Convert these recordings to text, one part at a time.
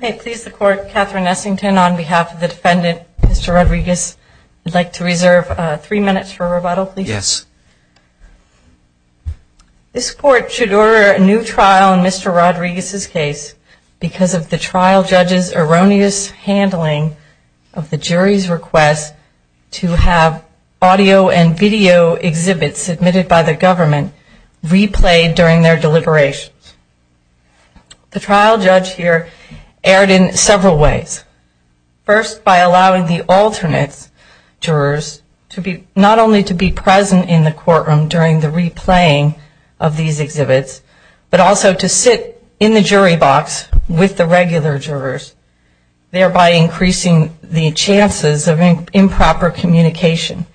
May it please the court, Catherine Essington on behalf of the defendant, Mr. Rodriguez. I'd like to reserve three minutes for rebuttal, please. This court should order a new trial in Mr. Rodriguez's case because of the trial judge's erroneous handling of the jury's request to have audio and video exhibits submitted by the government replayed during their deliberations. The trial judge here erred in several ways. First, by allowing the alternate jurors not only to be present in the courtroom during the replaying of these exhibits, but also to sit in the jury box with the regular jurors, thereby increasing the chances of improper communication.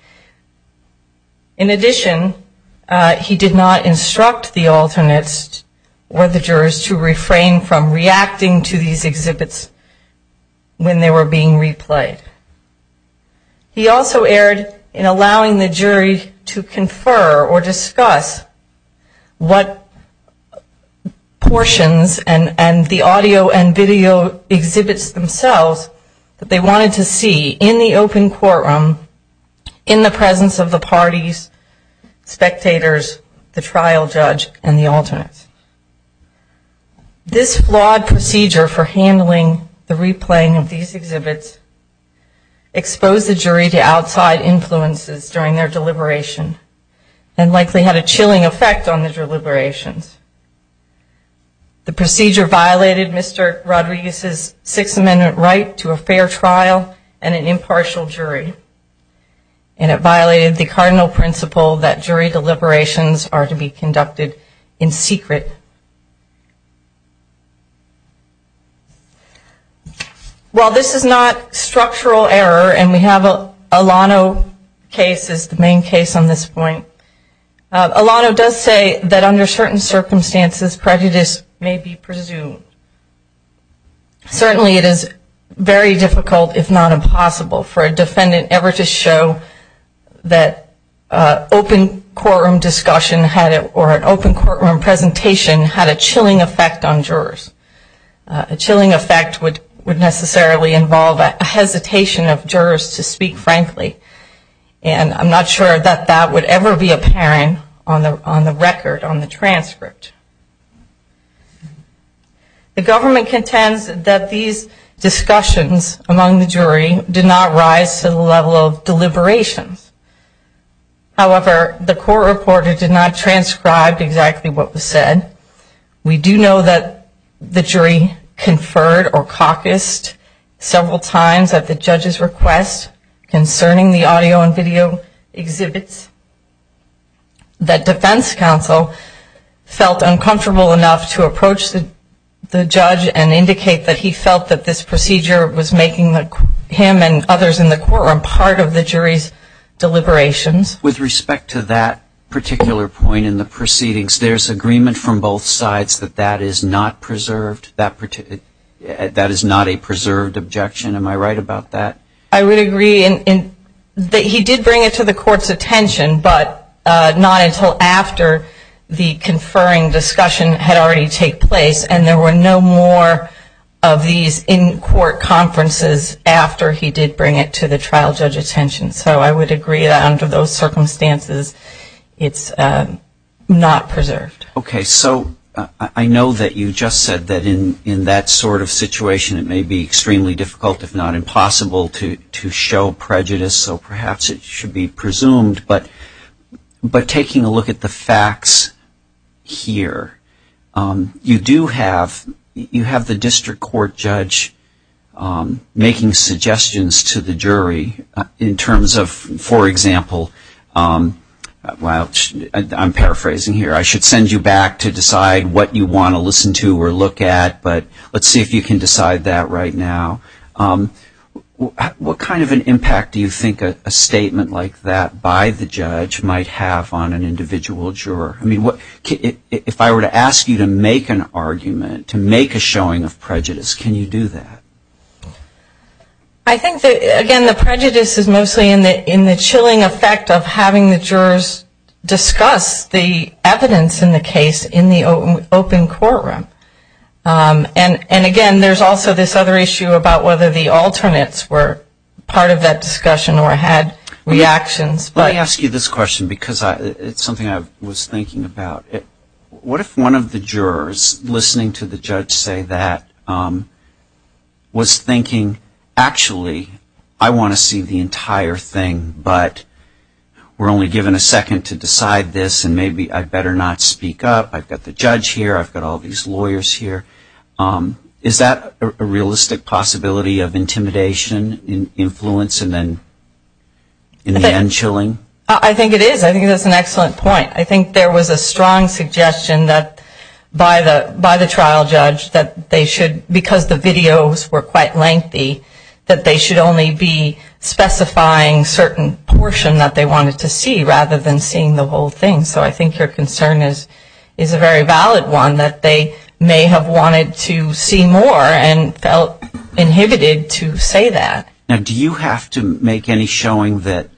In addition, he did not instruct the alternates or the jurors to refrain from reacting to these exhibits when they were being replayed. He also erred in allowing the jury to confer or discuss what portions and the audio and video exhibits themselves that they wanted to see in the open courtroom in the presence of the parties, spectators, the trial judge, and the alternates. This flawed procedure for handling the replaying of these exhibits exposed the jury to outside influences during their deliberation and likely had a chilling effect on the deliberations. The procedure violated Mr. Rodriguez's Sixth Amendment right to a fair trial and an impartial jury. And it violated the cardinal principle that jury deliberations are to be conducted in secret. While this is not structural error, and we have a Alano case as the main case on this point, Alano does say that under certain circumstances prejudice may be presumed. Certainly it is very difficult, if not impossible, for a defendant ever to show that open courtroom discussion or an open courtroom presentation had a chilling effect on jurors. A chilling effect would necessarily involve a hesitation of jurors to speak frankly. And I'm not sure that that would ever be apparent on the record, on the transcript. The government contends that these discussions among the jury did not rise to the level of deliberations. However, the court reporter did not transcribe exactly what was said. We do know that the jury conferred or caucused several times at the judge's request concerning the audio and video exhibits. That defense counsel felt uncomfortable enough to approach the judge and indicate that he felt that this With respect to that particular point in the proceedings, there's agreement from both sides that that is not preserved? That is not a preserved objection? Am I right about that? I would agree. He did bring it to the court's attention, but not until after the conferring discussion had already taken place. And there were no more of these in-court conferences after he did bring it to the trial judge's attention. So I would agree that under those circumstances, it's not preserved. Okay. So I know that you just said that in that sort of situation, it may be extremely difficult, if not impossible, to show prejudice. So perhaps it should be presumed. But taking a look at the facts here, you do have the district court judge making suggestions to the jury in terms of, for example, I'm paraphrasing here, I should send you back to decide what you want to listen to or look at, but let's see if you can decide that right now. What kind of an impact do you think a statement like that by the judge might have on an individual juror? I mean, if I were to ask you to make an argument, to make a showing of prejudice, can you do that? I think that, again, the prejudice is mostly in the chilling effect of having the jurors discuss the evidence in the case in the open courtroom. And, again, there's also this other issue about whether the alternates were part of that discussion or had reactions. Let me ask you this question because it's something I was thinking about. What if one of the jurors, listening to the judge say that, was thinking, actually, I want to see the entire thing, but we're only given a second to decide this and maybe I better not speak up, I've got the judge here, I've got all these lawyers here, is that a realistic possibility of intimidation, influence, and then in the end chilling? I think it is. I think that's an excellent point. I think there was a strong suggestion by the trial judge that they should, because the videos were quite lengthy, that they should only be specifying certain portion that they wanted to see rather than seeing the whole thing. So I think your concern is a very valid one, that they may have wanted to see more and felt inhibited to say that. Now, do you have to make any showing that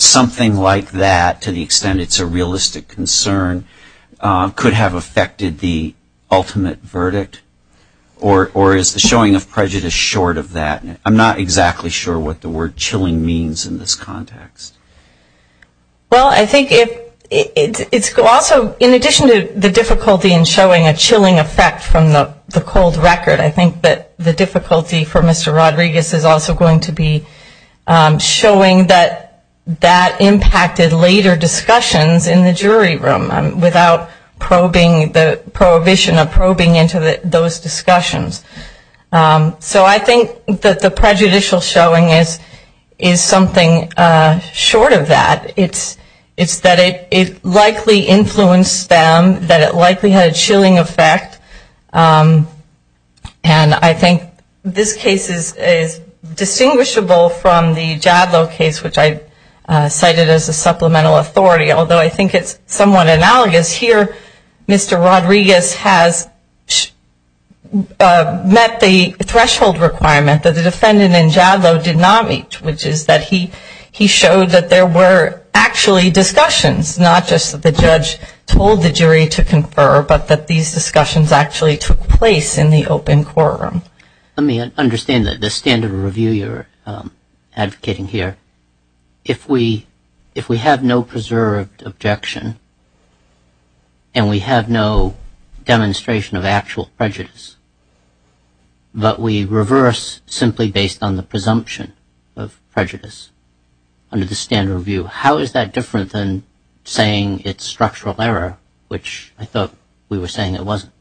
something like that, to the extent it's a realistic concern, could have affected the ultimate verdict? Or is the showing of prejudice short of that? I'm not exactly sure what the word chilling means in this context. Well, I think it's also, in addition to the difficulty in showing a chilling effect from the cold record, I think that the difficulty for Mr. Rodriguez is also going to be showing that that impacted later discussions in the jury room, without probing, the prohibition of probing into those discussions. So I think that the prejudicial showing is something short of that. It's that it likely influenced them, that it likely had a chilling effect. And I think this case is distinguishable from the Jadlow case, which I cited as a supplemental authority, although I think it's somewhat analogous. Here, Mr. Rodriguez has met the threshold requirement that the defendant in Jadlow did not meet, which is that he showed that there were actually discussions, not just that the judge told the jury to confer, but that these discussions actually took place in the open courtroom. Let me understand the standard of review you're advocating here. If we have no preserved objection and we have no demonstration of actual prejudice, but we reverse simply based on the presumption of prejudice under the standard of review, how is that different than saying it's structural error, which I thought we were saying it wasn't?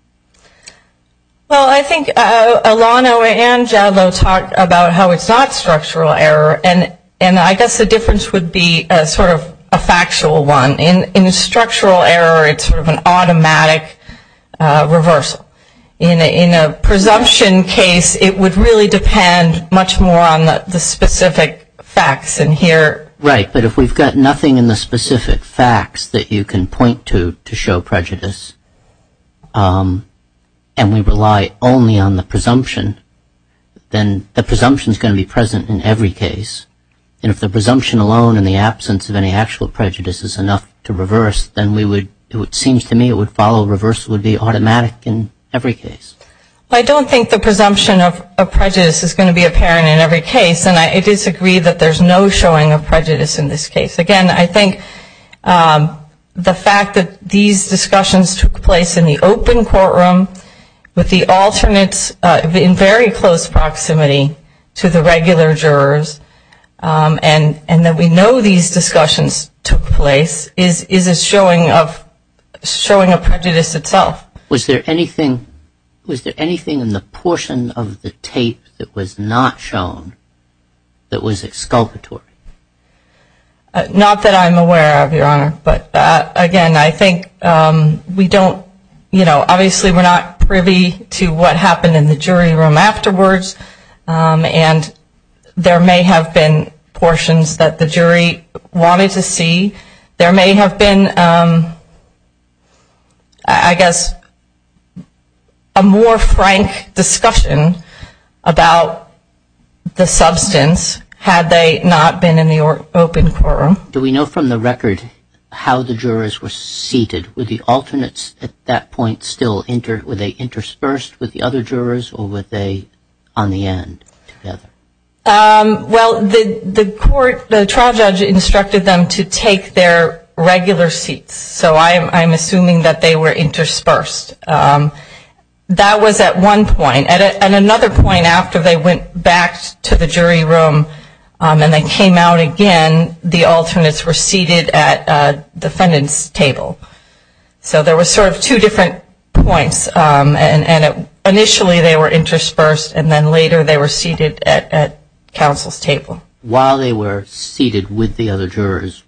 Well, I think Alano and Jadlow talked about how it's not structural error, and I guess the difference would be sort of a factual one. In structural error, it's sort of an automatic reversal. In a presumption case, it would really depend much more on the specific facts in here. Right. But if we've got nothing in the specific facts that you can point to to show prejudice and we rely only on the presumption, then the presumption is going to be present in every case. And if the presumption alone in the absence of any actual prejudice is enough to reverse, then it seems to me it would follow reverse would be automatic in every case. I don't think the presumption of prejudice is going to be apparent in every case, and I disagree that there's no showing of prejudice in this case. Again, I think the fact that these discussions took place in the open courtroom with the alternates in very close proximity to the regular jurors and that we know these discussions took place is a showing of prejudice itself. Was there anything in the portion of the tape that was not shown that was exculpatory? Not that I'm aware of, Your Honor, but again, I think we don't, you know, obviously we're not privy to what happened in the jury room afterwards, and there may have been portions that the jury wanted to see. There may have been, I guess, a more frank discussion about the substance had they not been in the open courtroom. Do we know from the record how the jurors were seated? Were the alternates at that point still interspersed with the other jurors or were they on the end together? Well, the court, the trial judge instructed them to take their regular seats, so I'm assuming that they were interspersed. That was at one point, and another point after they went back to the jury room and they came out again, the alternates were seated at the defendant's table. So there were sort of two different points, and initially they were interspersed and then later they were seated at counsel's table. While they were seated with the other jurors,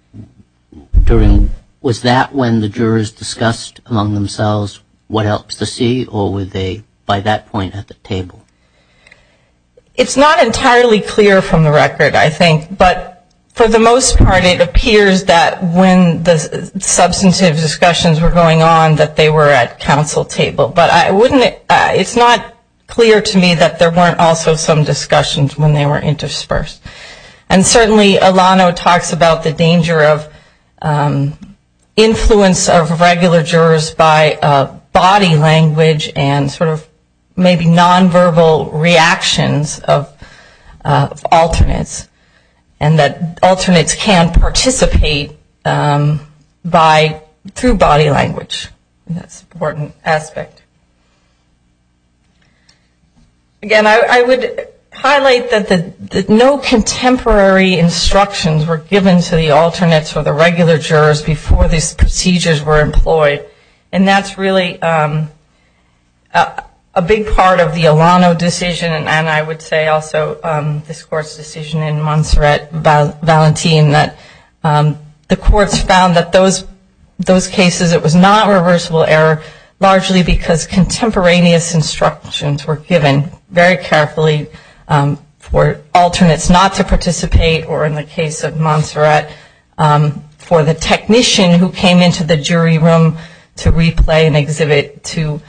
was that when the jurors discussed among themselves what else to see or were they by that point at the table? It's not entirely clear from the record, I think, but for the most part it appears that when the substantive discussions were going on that they were at counsel's table. But it's not clear to me that there weren't also some discussions when they were interspersed. And certainly Alano talks about the danger of influence of regular jurors by body language and sort of maybe nonverbal reactions of alternates and that alternates can participate through body language. That's an important aspect. Again, I would highlight that no contemporary instructions were given to the alternates or the regular jurors before these procedures were employed, and that's really a big part of the Alano decision, and I would say also this Court's decision in Montserrat-Valentin that the courts found that those cases it was not reversible error largely because contemporaneous instructions were given very carefully for alternates not to participate or in the case of Montserrat for the technician who came into the jury room to replay an exhibit to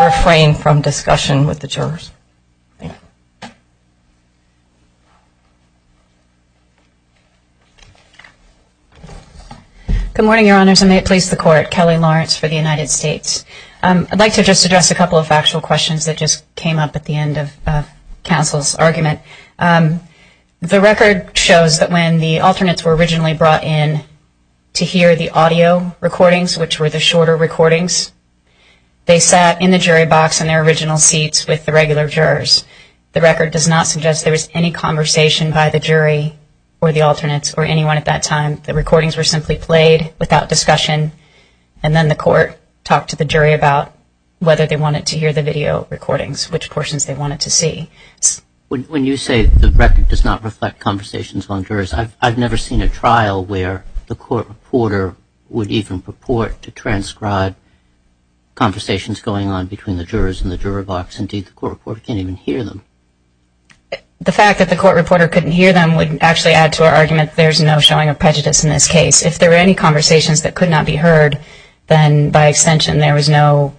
refrain from discussion with the jurors. Thank you. Good morning, Your Honors, and may it please the Court. Kelly Lawrence for the United States. I'd like to just address a couple of factual questions that just came up at the end of counsel's argument. The record shows that when the alternates were originally brought in to hear the audio recordings, which were the shorter recordings, they sat in the jury box in their original seats with the regular jurors. The record does not suggest there was any conversation by the jury or the alternates or anyone at that time. The recordings were simply played without discussion, and then the Court talked to the jury about whether they wanted to hear the video recordings, which portions they wanted to see. When you say the record does not reflect conversations on jurors, I've never seen a trial where the court reporter would even purport to transcribe conversations going on between the jurors in the juror box. Indeed, the court reporter can't even hear them. The fact that the court reporter couldn't hear them would actually add to our argument that there's no showing of prejudice in this case. If there were any conversations that could not be heard, then by extension, there was no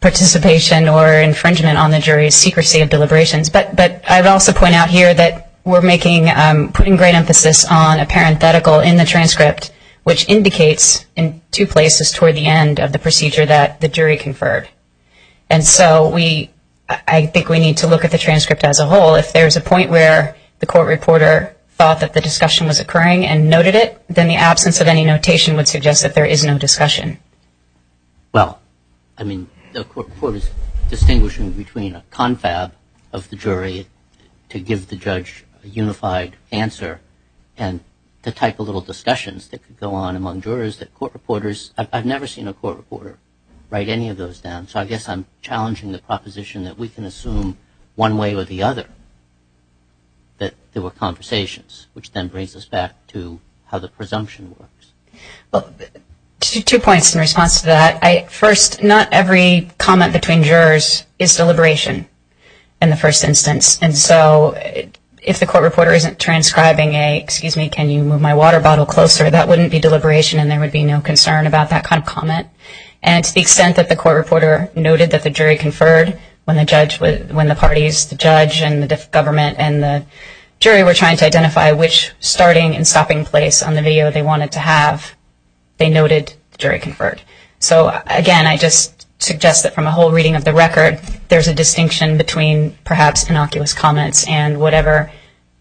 participation or infringement on the jury's secrecy of deliberations. But I would also point out here that we're putting great emphasis on a parenthetical in the transcript, which indicates in two places toward the end of the procedure that the jury conferred. And so I think we need to look at the transcript as a whole. If there's a point where the court reporter thought that the discussion was occurring and noted it, then the absence of any notation would suggest that there is no discussion. Well, I mean, the court reporter is distinguishing between a confab of the jury to give the judge a unified answer and the type of little discussions that could go on among jurors that court reporters – I've never seen a court reporter write any of those down. So I guess I'm challenging the proposition that we can assume one way or the other that there were conversations, which then brings us back to how the presumption works. Well, two points in response to that. First, not every comment between jurors is deliberation in the first instance. And so if the court reporter isn't transcribing a, excuse me, can you move my water bottle closer, that wouldn't be deliberation and there would be no concern about that kind of comment. And to the extent that the court reporter noted that the jury conferred when the parties, the judge and the government and the jury, were trying to identify which starting and stopping place on the video they wanted to have, they noted the jury conferred. So again, I just suggest that from a whole reading of the record, there's a distinction between perhaps innocuous comments and whatever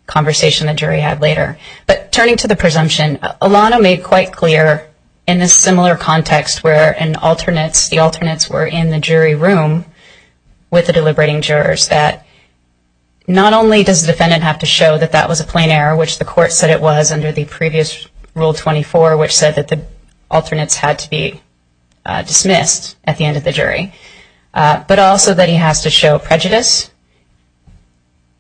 conversation the jury had later. But turning to the presumption, Alano made quite clear in this similar context where an alternates, the alternates were in the jury room with the deliberating jurors, that not only does the defendant have to show that that was a plain error, which the court said it was under the previous Rule 24, which said that the alternates had to be dismissed at the end of the jury, but also that he has to show prejudice.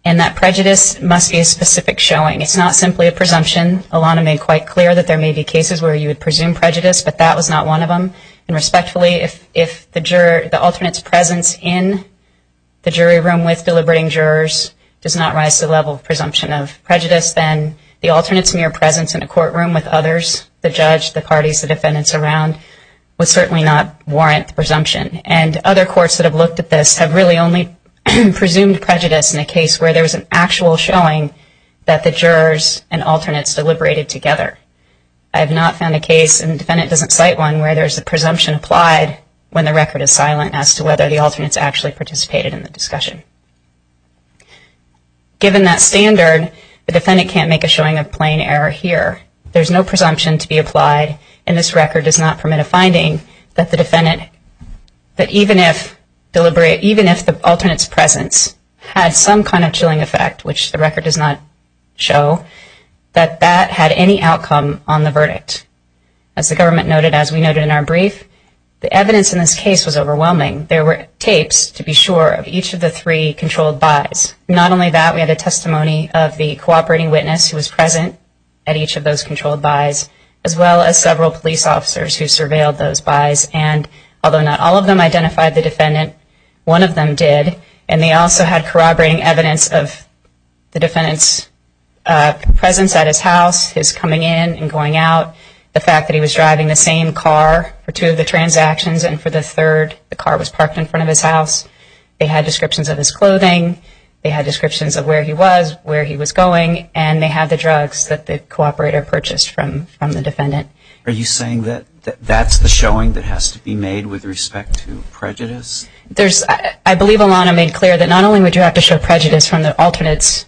And that prejudice must be a specific showing. It's not simply a presumption. Alano made quite clear that there may be cases where you would presume prejudice, but that was not one of them. And respectfully, if the alternates' presence in the jury room with deliberating jurors does not rise to the level of presumption of prejudice, then the alternates' mere presence in a courtroom with others, the judge, the parties, the defendants around, would certainly not warrant the presumption. And other courts that have looked at this have really only presumed prejudice in a case where there was an actual showing that the jurors and alternates deliberated together. I have not found a case, and the defendant doesn't cite one, where there's a presumption applied when the record is silent as to whether the alternates actually participated in the discussion. Given that standard, the defendant can't make a showing of plain error here. There's no presumption to be applied, and this record does not permit a finding that even if the alternates' presence had some kind of chilling effect, which the record does not show, that that had any outcome on the verdict. As the government noted, as we noted in our brief, the evidence in this case was overwhelming. There were tapes, to be sure, of each of the three controlled buys. Not only that, we had a testimony of the cooperating witness who was present at each of those controlled buys, as well as several police officers who surveilled those buys, and although not all of them identified the defendant, one of them did, and they also had corroborating evidence of the defendant's presence at his house, his coming in and going out, the fact that he was driving the same car for two of the transactions, and for the third, the car was parked in front of his house. They had descriptions of his clothing. They had descriptions of where he was, where he was going, and they had the drugs that the cooperator purchased from the defendant. Are you saying that that's the showing that has to be made with respect to prejudice? I believe Alana made clear that not only would you have to show prejudice from the alternate's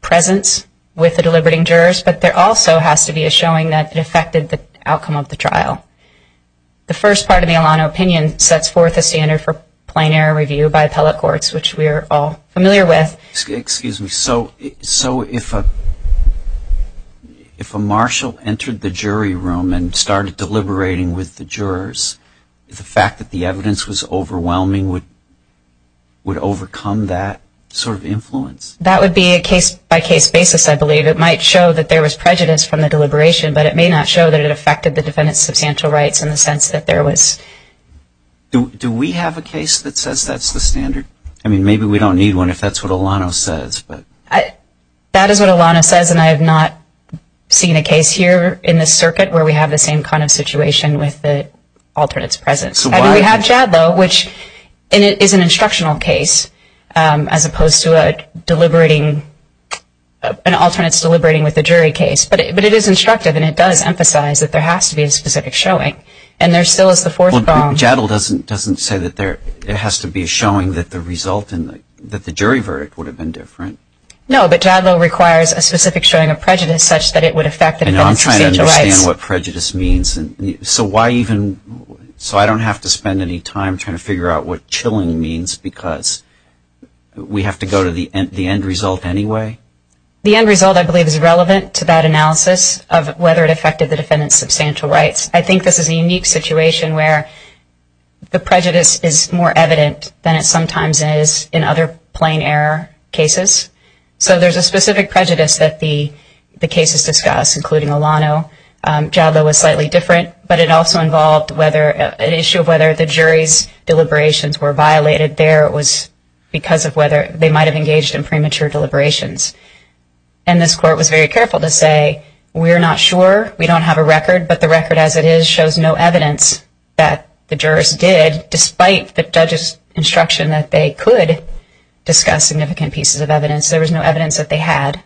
presence with the deliberating jurors, but there also has to be a showing that it affected the outcome of the trial. The first part of the Alana opinion sets forth a standard for plain error review by appellate courts, which we are all familiar with. Excuse me. So if a marshal entered the jury room and started deliberating with the jurors, the fact that the evidence was overwhelming would overcome that sort of influence? That would be a case-by-case basis, I believe. It might show that there was prejudice from the deliberation, but it may not show that it affected the defendant's substantial rights in the sense that there was. Do we have a case that says that's the standard? I mean, maybe we don't need one if that's what Alana says. That is what Alana says, and I have not seen a case here in this circuit where we have the same kind of situation with the alternate's presence. I mean, we have JADLOW, which is an instructional case as opposed to an alternate's deliberating with the jury case, but it is instructive and it does emphasize that there has to be a specific showing, and there still is the fourth bound. JADLOW doesn't say that it has to be a showing that the result in the jury verdict would have been different? No, but JADLOW requires a specific showing of prejudice such that it would affect the defendant's substantial rights. And I'm trying to understand what prejudice means. So I don't have to spend any time trying to figure out what chilling means because we have to go to the end result anyway? The end result, I believe, is relevant to that analysis of whether it affected the defendant's substantial rights. I think this is a unique situation where the prejudice is more evident than it sometimes is in other plain error cases. So there's a specific prejudice that the cases discuss, including Olano. JADLOW was slightly different, but it also involved an issue of whether the jury's deliberations were violated there. It was because of whether they might have engaged in premature deliberations. And this court was very careful to say, we're not sure, we don't have a record, but the record as it is shows no evidence that the jurors did, despite the judge's instruction that they could discuss significant pieces of evidence, there was no evidence that they had,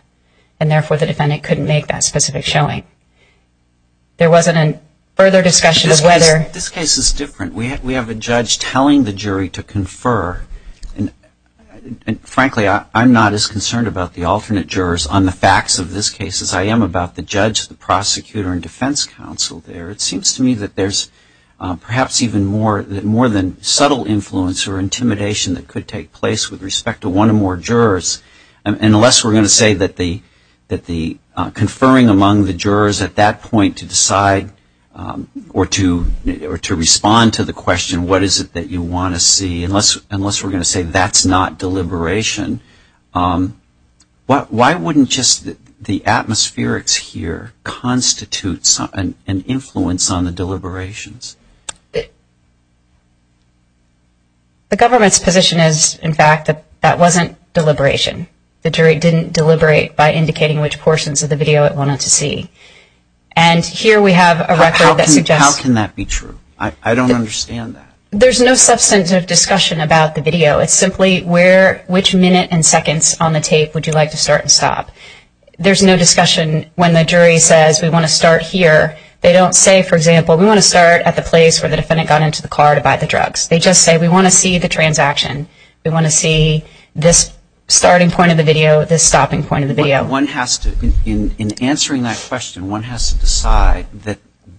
and therefore, the defendant couldn't make that specific showing. There wasn't a further discussion of whether... This case is different. We have a judge telling the jury to confer. And frankly, I'm not as concerned about the alternate jurors on the facts of this case as I am about the judge, the prosecutor, and defense counsel there. It seems to me that there's perhaps even more than subtle influence or intimidation that could take place with respect to one or more jurors. Unless we're going to say that the conferring among the jurors at that point to decide or to respond to the question, what is it that you want to see, unless we're going to say that's not deliberation, why wouldn't just the atmospherics here constitute an influence on the deliberations? The government's position is, in fact, that that wasn't deliberation. The jury didn't deliberate by indicating which portions of the video it wanted to see. And here we have a record that suggests... How can that be true? I don't understand that. There's no substantive discussion about the video. It's simply which minute and seconds on the tape would you like to start and stop. There's no discussion when the jury says we want to start here. They don't say, for example, we want to start at the place where the defendant got into the car to buy the drugs. They just say we want to see the transaction. We want to see this starting point of the video, this stopping point of the video. One has to, in answering that question, one has to decide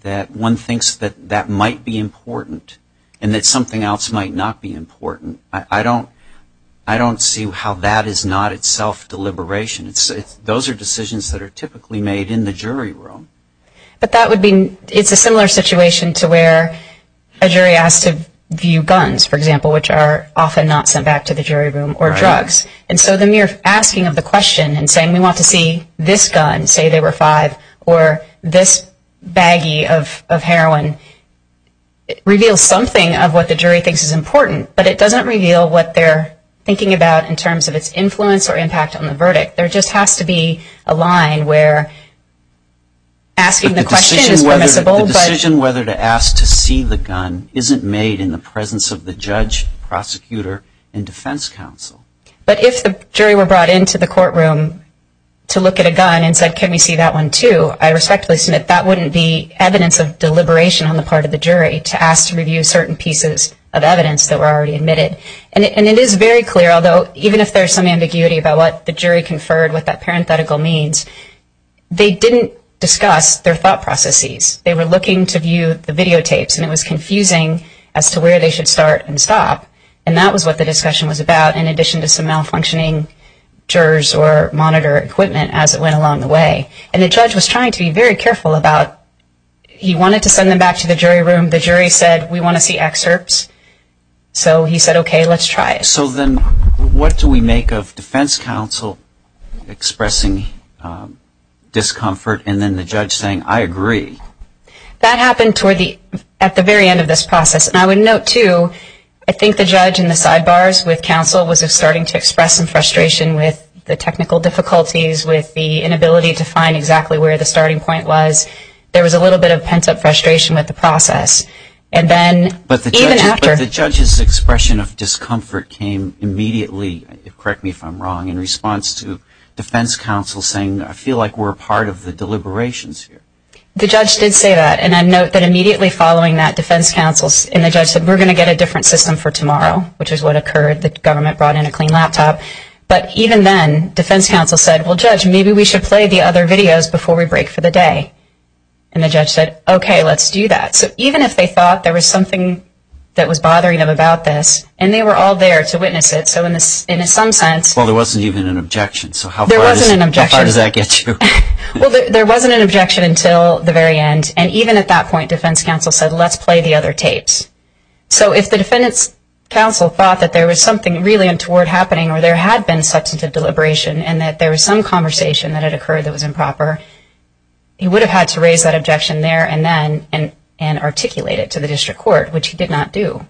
that one thinks that that might be important and that something else might not be important. I don't see how that is not itself deliberation. Those are decisions that are typically made in the jury room. But that would be... It's a similar situation to where a jury asks to view guns, for example, which are often not sent back to the jury room, or drugs. And so the mere asking of the question and saying we want to see this gun, say there were five, or this baggie of heroin, reveals something of what the jury thinks is important. But it doesn't reveal what they're thinking about in terms of its influence or impact on the verdict. There just has to be a line where asking the question is permissible. But the decision whether to ask to see the gun isn't made in the presence of the judge, prosecutor, and defense counsel. But if the jury were brought into the courtroom to look at a gun and said, can we see that one too, I respectfully submit that wouldn't be evidence of deliberation on the part of the jury to ask to review certain pieces of evidence that were already admitted. And it is very clear, although even if there's some ambiguity about what the jury conferred, what that parenthetical means, they didn't discuss their thought processes. They were looking to view the videotapes, and it was confusing as to where they should start and stop. And that was what the discussion was about, in addition to some malfunctioning jurors or monitor equipment as it went along the way. And the judge was trying to be very careful about... He wanted to send them back to the jury room. The jury said, we want to see excerpts. So he said, okay, let's try it. So then what do we make of defense counsel expressing discomfort and then the judge saying, I agree? That happened at the very end of this process. And I would note too, I think the judge in the sidebars with counsel was starting to express some frustration with the technical difficulties, with the inability to find exactly where the starting point was. There was a little bit of pent-up frustration with the process. But the judge's expression of discomfort came immediately, correct me if I'm wrong, in response to defense counsel saying, I feel like we're part of the deliberations here. The judge did say that, and I note that immediately following that, defense counsel and the judge said, we're going to get a different system for tomorrow, which is what occurred. The government brought in a clean laptop. But even then, defense counsel said, well, judge, maybe we should play the other videos before we break for the day. And the judge said, okay, let's do that. So even if they thought there was something that was bothering them about this, and they were all there to witness it, so in some sense ‑‑ Well, there wasn't even an objection. So how far does that get you? Well, there wasn't an objection until the very end. And even at that point, defense counsel said, let's play the other tapes. So if the defense counsel thought that there was something really untoward happening or there had been substantive deliberation and that there was some conversation that had occurred that was improper, he would have had to raise that objection there and articulate it to the district court, which he did not do.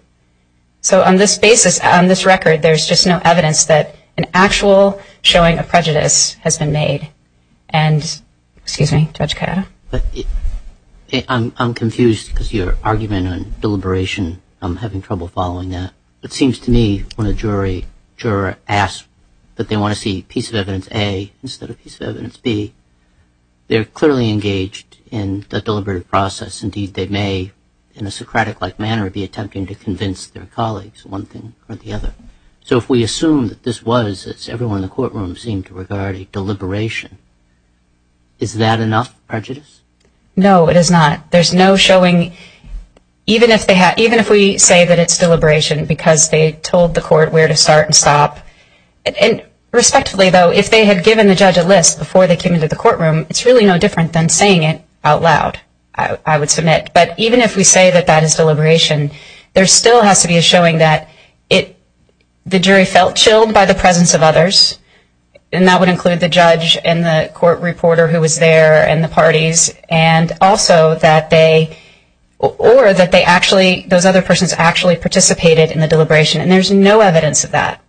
So on this basis, on this record, there's just no evidence that an actual showing of prejudice has been made. And ‑‑ excuse me, Judge Kayada. I'm confused because your argument on deliberation, I'm having trouble following that. It seems to me when a juror asks that they want to see piece of evidence A instead of piece of evidence B, they're clearly engaged in the deliberative process. Indeed, they may, in a Socratic-like manner, be attempting to convince their colleagues one thing or the other. So if we assume that this was, as everyone in the courtroom seemed to regard it, deliberation, is that enough prejudice? No, it is not. There's no showing, even if we say that it's deliberation, because they told the court where to start and stop. And respectfully, though, if they had given the judge a list before they came into the courtroom, it's really no different than saying it out loud, I would submit. But even if we say that that is deliberation, there still has to be a showing that the jury felt chilled by the presence of others, and that would include the judge and the court reporter who was there and the parties, and also that they ‑‑ or that they actually, those other persons actually participated in the deliberation. And there's no evidence of that,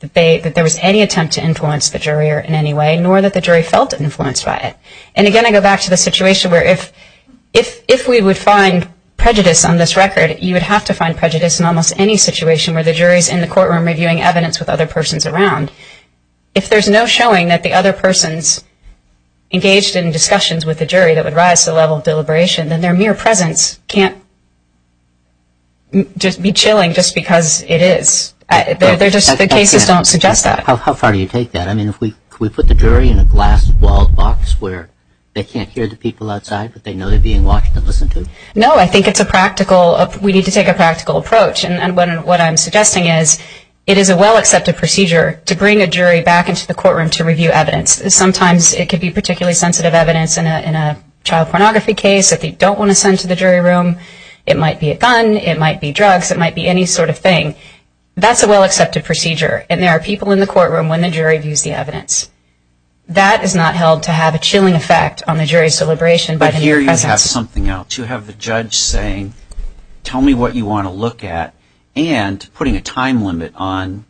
that there was any attempt to influence the jury in any way, nor that the jury felt influenced by it. And, again, I go back to the situation where if we would find prejudice on this record, you would have to find prejudice in almost any situation where the jury's in the courtroom reviewing evidence with other persons around. If there's no showing that the other person's engaged in discussions with the jury that would rise to the level of deliberation, then their mere presence can't just be chilling just because it is. The cases don't suggest that. How far do you take that? I mean, can we put the jury in a glass box where they can't hear the people outside, but they know they're being watched and listened to? No, I think it's a practical, we need to take a practical approach. And what I'm suggesting is it is a well‑accepted procedure to bring a jury back into the courtroom to review evidence. Sometimes it can be particularly sensitive evidence in a child pornography case that they don't want to send to the jury room. It might be a gun. It might be drugs. It might be any sort of thing. That's a well‑accepted procedure, and there are people in the courtroom when the jury views the evidence. That is not held to have a chilling effect on the jury's deliberation. But here you have something else. You have the judge saying, tell me what you want to look at, and putting a time limit on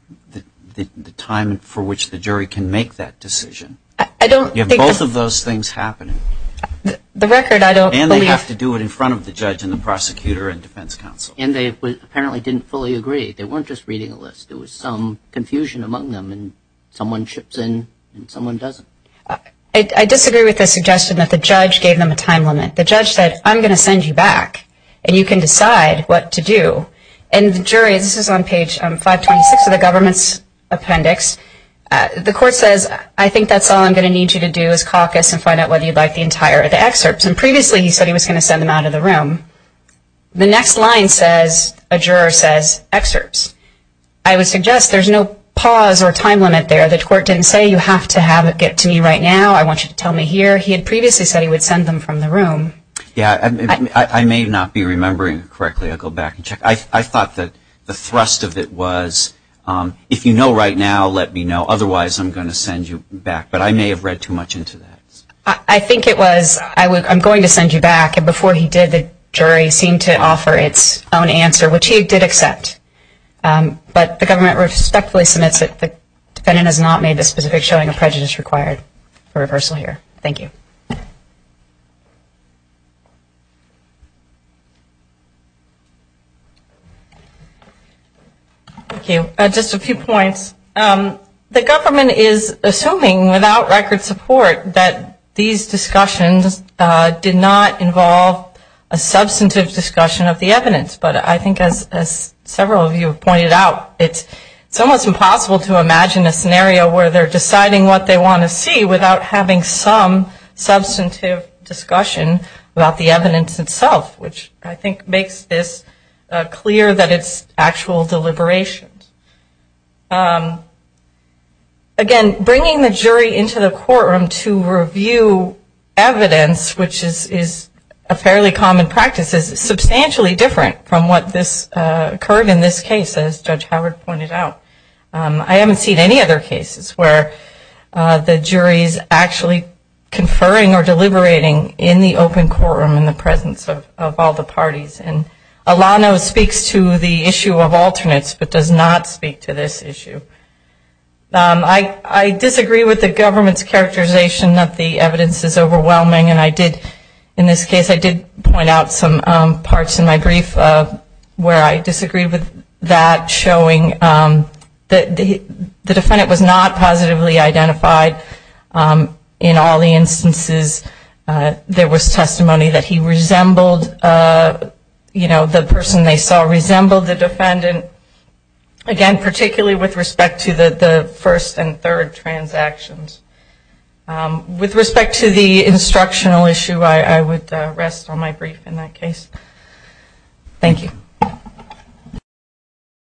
the time for which the jury can make that decision. You have both of those things happening. And they have to do it in front of the judge and the prosecutor and defense counsel. And they apparently didn't fully agree. They weren't just reading a list. There was some confusion among them, and someone chips in and someone doesn't. I disagree with the suggestion that the judge gave them a time limit. The judge said, I'm going to send you back, and you can decide what to do. And the jury, this is on page 526 of the government's appendix. The court says, I think that's all I'm going to need you to do is caucus and find out whether you'd like the entire excerpts. And previously he said he was going to send them out of the room. The next line says, a juror says, excerpts. I would suggest there's no pause or time limit there. The court didn't say, you have to have it get to me right now. I want you to tell me here. He had previously said he would send them from the room. Yeah, I may not be remembering correctly. I'll go back and check. I thought that the thrust of it was, if you know right now, let me know. Otherwise, I'm going to send you back. But I may have read too much into that. I think it was, I'm going to send you back. And before he did, the jury seemed to offer its own answer, which he did accept. But the government respectfully submits that the defendant has not made the specific showing of prejudice required for reversal here. Thank you. Thank you. Just a few points. The government is assuming, without record support, that these discussions did not involve a substantive discussion of the evidence. But I think, as several of you have pointed out, it's almost impossible to imagine a scenario where they're deciding what they want to see without having some substantive discussion about the evidence itself, which I think makes this clear that it's actual deliberations. Again, bringing the jury into the courtroom to review evidence, which is a fairly common practice, is substantially different from what occurred in this case, as Judge Howard pointed out. I haven't seen any other cases where the jury is actually conferring or deliberating in the open courtroom in the presence of all the parties. And Alano speaks to the issue of alternates but does not speak to this issue. I disagree with the government's characterization that the evidence is overwhelming. And I did, in this case, I did point out some parts in my brief where I disagreed with that, showing that the defendant was not positively identified in all the instances. There was testimony that he resembled, you know, the person they saw resembled the defendant. Again, particularly with respect to the first and third transactions. With respect to the instructional issue, I would rest on my brief in that case. Thank you.